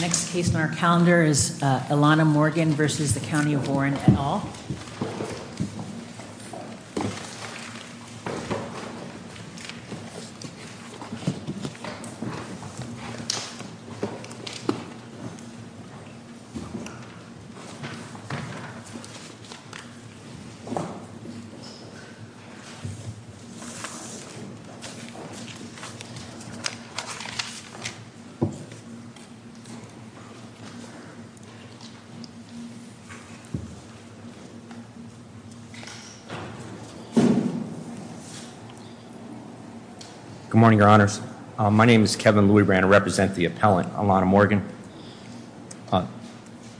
Next case on our calendar is Ilana Morgan v. The County of Warren et al. Good morning, Your Honors. My name is Kevin Louie Brandt. I represent the appellant, Ilana Morgan.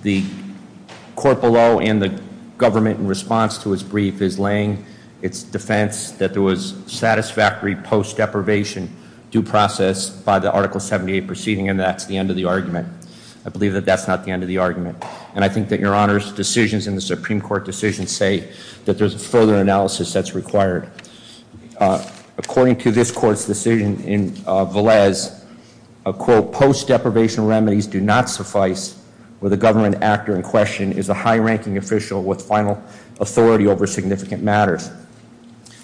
The court below and the government in response to his brief is laying its defense that there was I believe that that's not the end of the argument. And I think that, Your Honors, decisions in the Supreme Court decisions say that there's a further analysis that's required. According to this court's decision in Velez, a quote, post deprivation remedies do not suffice with the government actor in question is a high ranking official with final authority over significant matters.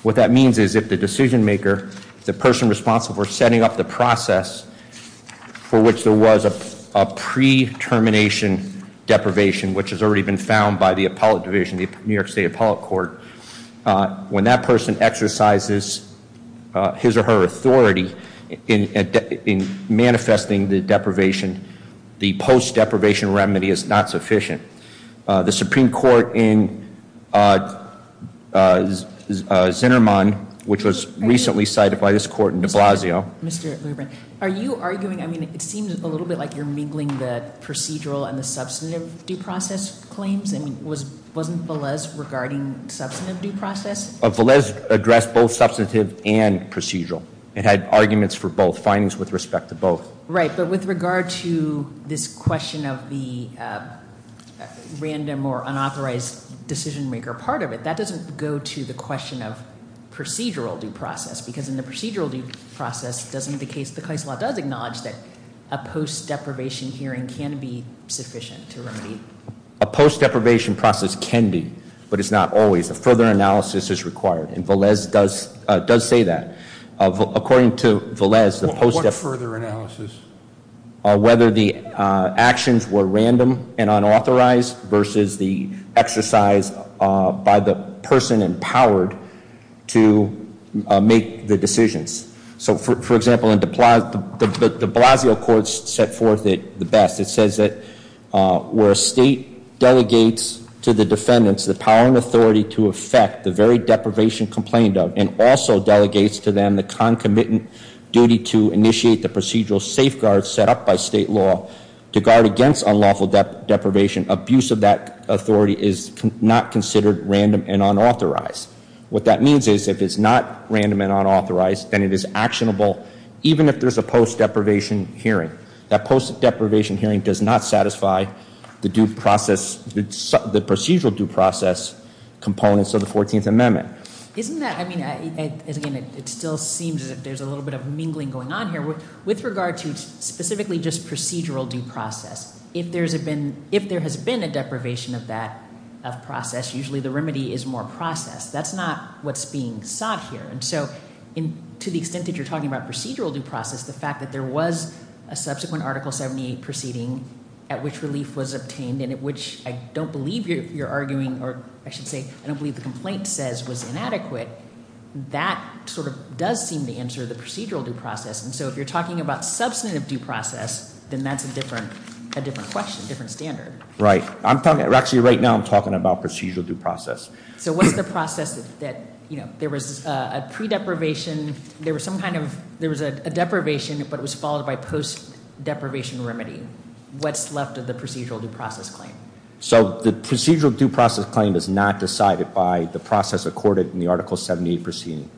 What that means is if the decision maker, the person responsible for setting up the process for which there was a pre-termination deprivation, which has already been found by the appellate division, the New York State Appellate Court, when that person exercises his or her authority in manifesting the deprivation, the post deprivation remedy is not sufficient. The Supreme Court in Zinnerman, which was recently cited by this court in de Blasio. Mr. Louie Brandt, are you arguing, I mean, it seems a little bit like you're mingling the procedural and the substantive due process claims. I mean, wasn't Velez regarding substantive due process? Velez addressed both substantive and procedural. It had arguments for both findings with respect to both. Right, but with regard to this question of the random or unauthorized decision maker part of it, that doesn't go to the question of procedural due process. Because in the procedural due process, doesn't the case, the case law does acknowledge that a post deprivation hearing can be sufficient to remedy. A post deprivation process can be, but it's not always. A further analysis is required, and Velez does say that. According to Velez, the post deprivation- What further analysis? Whether the actions were random and unauthorized versus the exercise by the person empowered to make the decisions. So, for example, in de Blasio, the de Blasio court set forth it the best. It says that where a state delegates to the defendants the power and concomitant duty to initiate the procedural safeguards set up by state law to guard against unlawful deprivation. Abuse of that authority is not considered random and unauthorized. What that means is if it's not random and unauthorized, then it is actionable, even if there's a post deprivation hearing. That post deprivation hearing does not satisfy the due process, the procedural due process components of the 14th Amendment. Isn't that- I mean, again, it still seems that there's a little bit of mingling going on here. With regard to specifically just procedural due process, if there's been- If there has been a deprivation of that process, usually the remedy is more processed. That's not what's being sought here, and so to the extent that you're talking about procedural due process, the fact that there was a subsequent Article 78 proceeding at which relief was obtained, and at which I don't believe you're arguing, or I should say, I don't believe the complaint says was inadequate, that sort of does seem to answer the procedural due process. And so if you're talking about substantive due process, then that's a different question, different standard. Right. Actually, right now I'm talking about procedural due process. So what's the process that there was a pre-deprivation, there was some kind of- There was a deprivation, but it was followed by post deprivation remedy. What's left of the procedural due process claim? So the procedural due process claim is not decided by the process accorded in the Article 78 proceeding.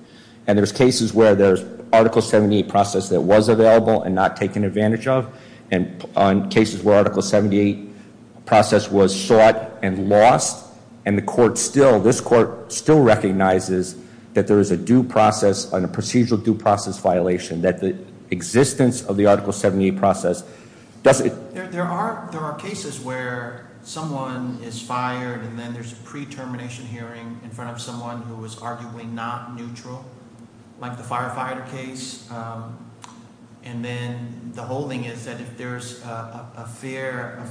And there's cases where there's Article 78 process that was available and not taken advantage of, and on cases where Article 78 process was sought and lost, and the court still- This court still recognizes that there is a due process and a procedural due process violation, that the existence of the Article 78 process doesn't- There are cases where someone is fired, and then there's a pre-termination hearing in front of someone who is arguably not neutral, like the firefighter case. And then the whole thing is that if there's a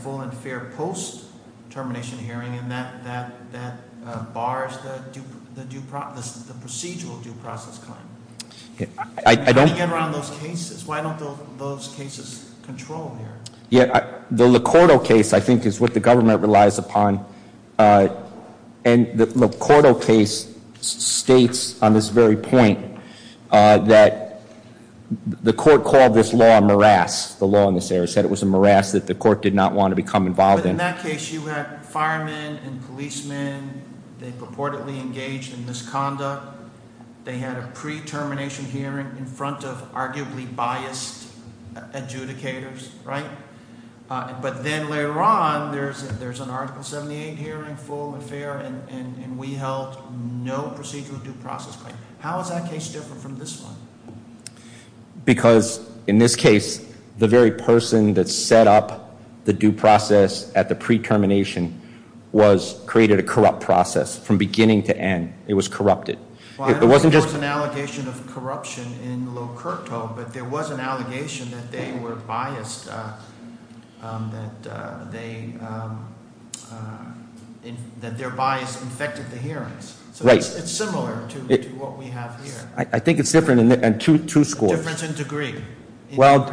full and fair post-termination hearing, and that bars the procedural due process claim. How do you get around those cases? Why don't those cases control here? The Licordo case, I think, is what the government relies upon. And the Licordo case states on this very point that the court called this law a morass. The law in this area said it was a morass that the court did not want to become involved in. But in that case, you had firemen and policemen. They purportedly engaged in misconduct. They had a pre-termination hearing in front of arguably biased adjudicators, right? But then later on, there's an Article 78 hearing, full and fair, and we held no procedural due process claim. How is that case different from this one? Because in this case, the very person that set up the due process at the pre-termination was created a corrupt process from beginning to end. It was corrupted. I don't think there was an allegation of corruption in Licordo, but there was an allegation that their bias infected the hearings. Right. So it's similar to what we have here. I think it's different in two scores. Difference in degree. Well,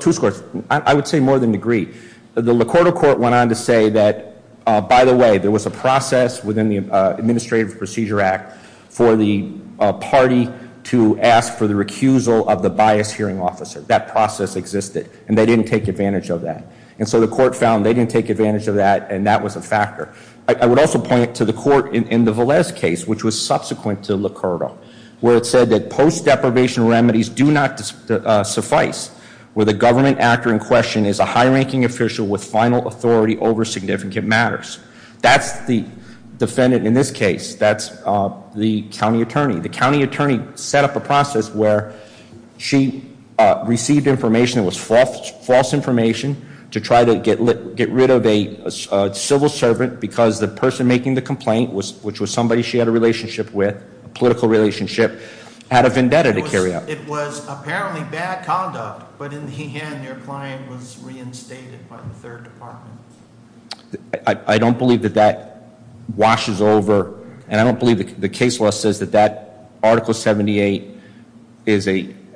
two scores. I would say more than degree. The Licordo court went on to say that, by the way, there was a process within the Administrative Procedure Act for the party to ask for the recusal of the biased hearing officer. That process existed, and they didn't take advantage of that. And so the court found they didn't take advantage of that, and that was a factor. I would also point to the court in the Velez case, which was subsequent to Licordo, where it said that post-deprivation remedies do not suffice, where the government actor in question is a high-ranking official with final authority over significant matters. That's the defendant in this case. That's the county attorney. The county attorney set up a process where she received information that was false information to try to get rid of a civil servant because the person making the complaint, which was somebody she had a relationship with, a political relationship, had a vendetta to carry out. It was apparently bad conduct, but in the end, their client was reinstated by the third department. I don't believe that that washes over, and I don't believe the case law says that that Article 78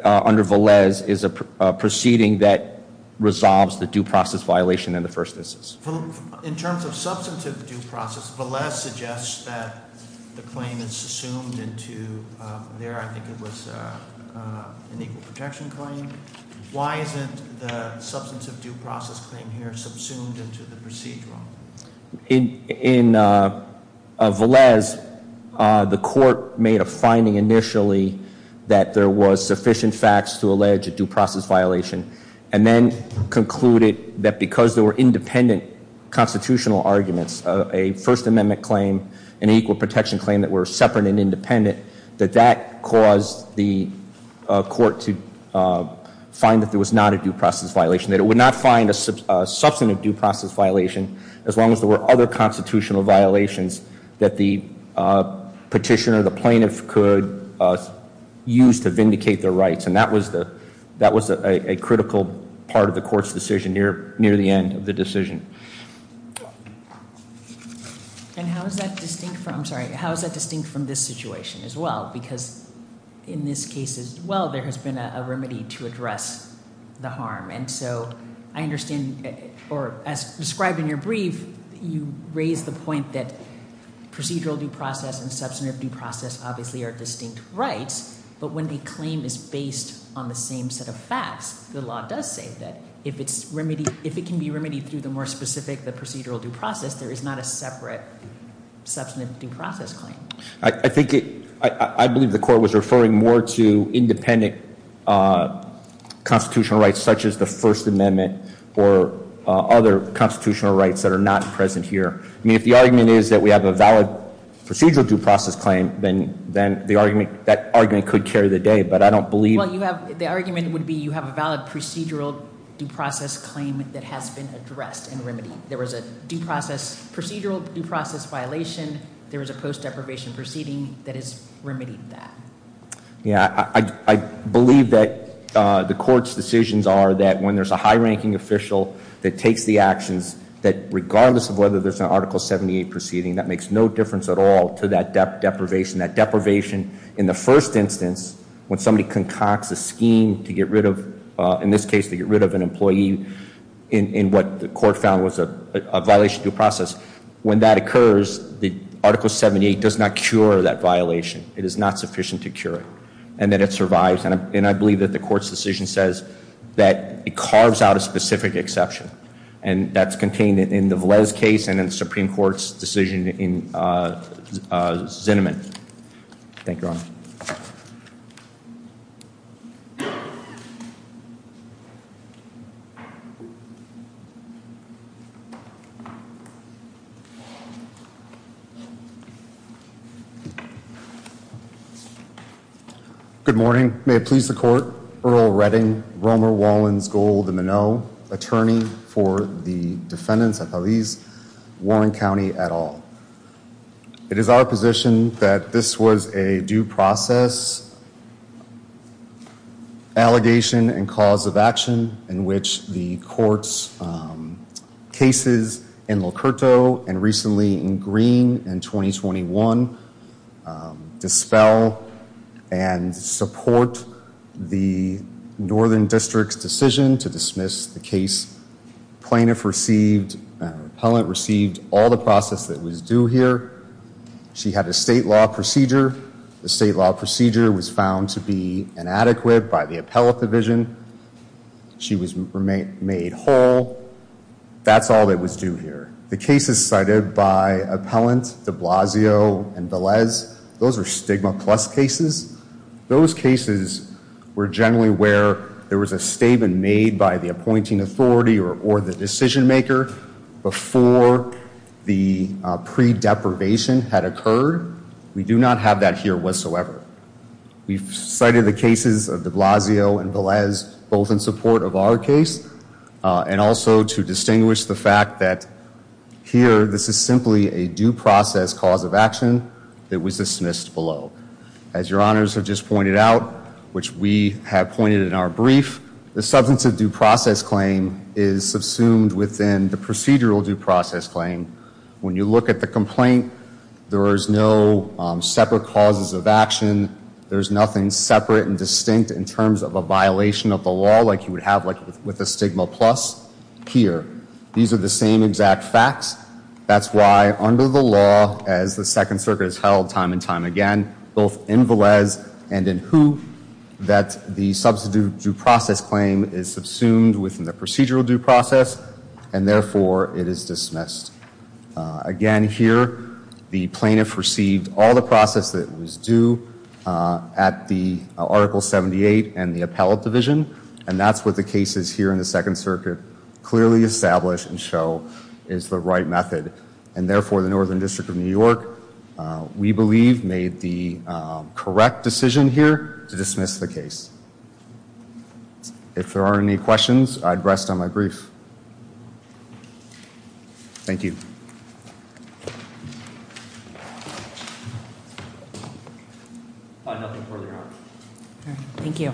under Velez is a proceeding that resolves the due process violation in the first instance. In terms of substantive due process, Velez suggests that the claim is assumed into, there I think it was an equal protection claim. Why isn't the substantive due process claim here subsumed into the procedural? In Velez, the court made a finding initially that there was sufficient facts to allege a due process violation, and then concluded that because there were independent constitutional arguments, a First Amendment claim, an equal protection claim that were separate and independent, that that caused the court to find that there was not a due process violation. That it would not find a substantive due process violation as long as there were other constitutional violations that the petitioner, the plaintiff could use to vindicate their rights. And that was a critical part of the court's decision near the end of the decision. And how is that distinct from, I'm sorry, how is that distinct from this situation as well? Because in this case as well, there has been a remedy to address the harm, and so I understand, or as described in your brief, you raise the point that substantive due process obviously are distinct rights, but when the claim is based on the same set of facts, the law does say that if it can be remedied through the more specific procedural due process, there is not a separate substantive due process claim. I believe the court was referring more to independent constitutional rights, such as the First Amendment, or other constitutional rights that are not present here. I mean, if the argument is that we have a valid procedural due process claim, then that argument could carry the day. But I don't believe- Well, the argument would be you have a valid procedural due process claim that has been addressed and remedied. There was a due process, procedural due process violation. There was a post deprivation proceeding that has remedied that. Yeah, I believe that the court's decisions are that when there's a high-ranking official that takes the actions, that regardless of whether there's an Article 78 proceeding, that makes no difference at all to that deprivation. That deprivation in the first instance, when somebody concocts a scheme to get rid of, in this case, to get rid of an employee in what the court found was a violation due process, when that occurs, the Article 78 does not cure that violation. It is not sufficient to cure it, and that it survives. And I believe that the court's decision says that it carves out a specific exception. And that's contained in the Velez case and in the Supreme Court's decision in Zinnemann. Good morning. May it please the court. Earl Redding, Romer, Wallins, Gold, and Moneau, attorney for the defendants at Velez, Warren County et al. It is our position that this was a due process allegation and cause of action in which the court's cases in Locurto and recently in Green in 2021 dispel and support the Northern District's decision to dismiss the case. Plaintiff received, appellant received all the process that was due here. She had a state law procedure. The state law procedure was found to be inadequate by the appellate division. She was made whole. That's all that was due here. The cases cited by appellant, de Blasio, and Velez, those are stigma plus cases. Those cases were generally where there was a statement made by the appointing authority or the decision maker before the pre-deprivation had occurred. We do not have that here whatsoever. We've cited the cases of de Blasio and Velez both in support of our case and also to distinguish the fact that here this is simply a due process cause of action that was dismissed below. As your honors have just pointed out, which we have pointed in our brief, the substance of due process claim is subsumed within the procedural due process claim. When you look at the complaint, there is no separate causes of action. There's nothing separate and distinct in terms of a violation of the law like you would have with a stigma plus here. These are the same exact facts. That's why under the law, as the Second Circuit has held time and time again, both in Velez and in Who, that the substance of due process claim is subsumed within the procedural due process and therefore it is dismissed. Again here, the plaintiff received all the process that was due at the Article 78 and the appellate division, and that's what the cases here in the Second Circuit clearly establish and show is the right method. And therefore, the Northern District of New York, we believe, made the correct decision here to dismiss the case. If there aren't any questions, I'd rest on my brief. Thank you. Thank you.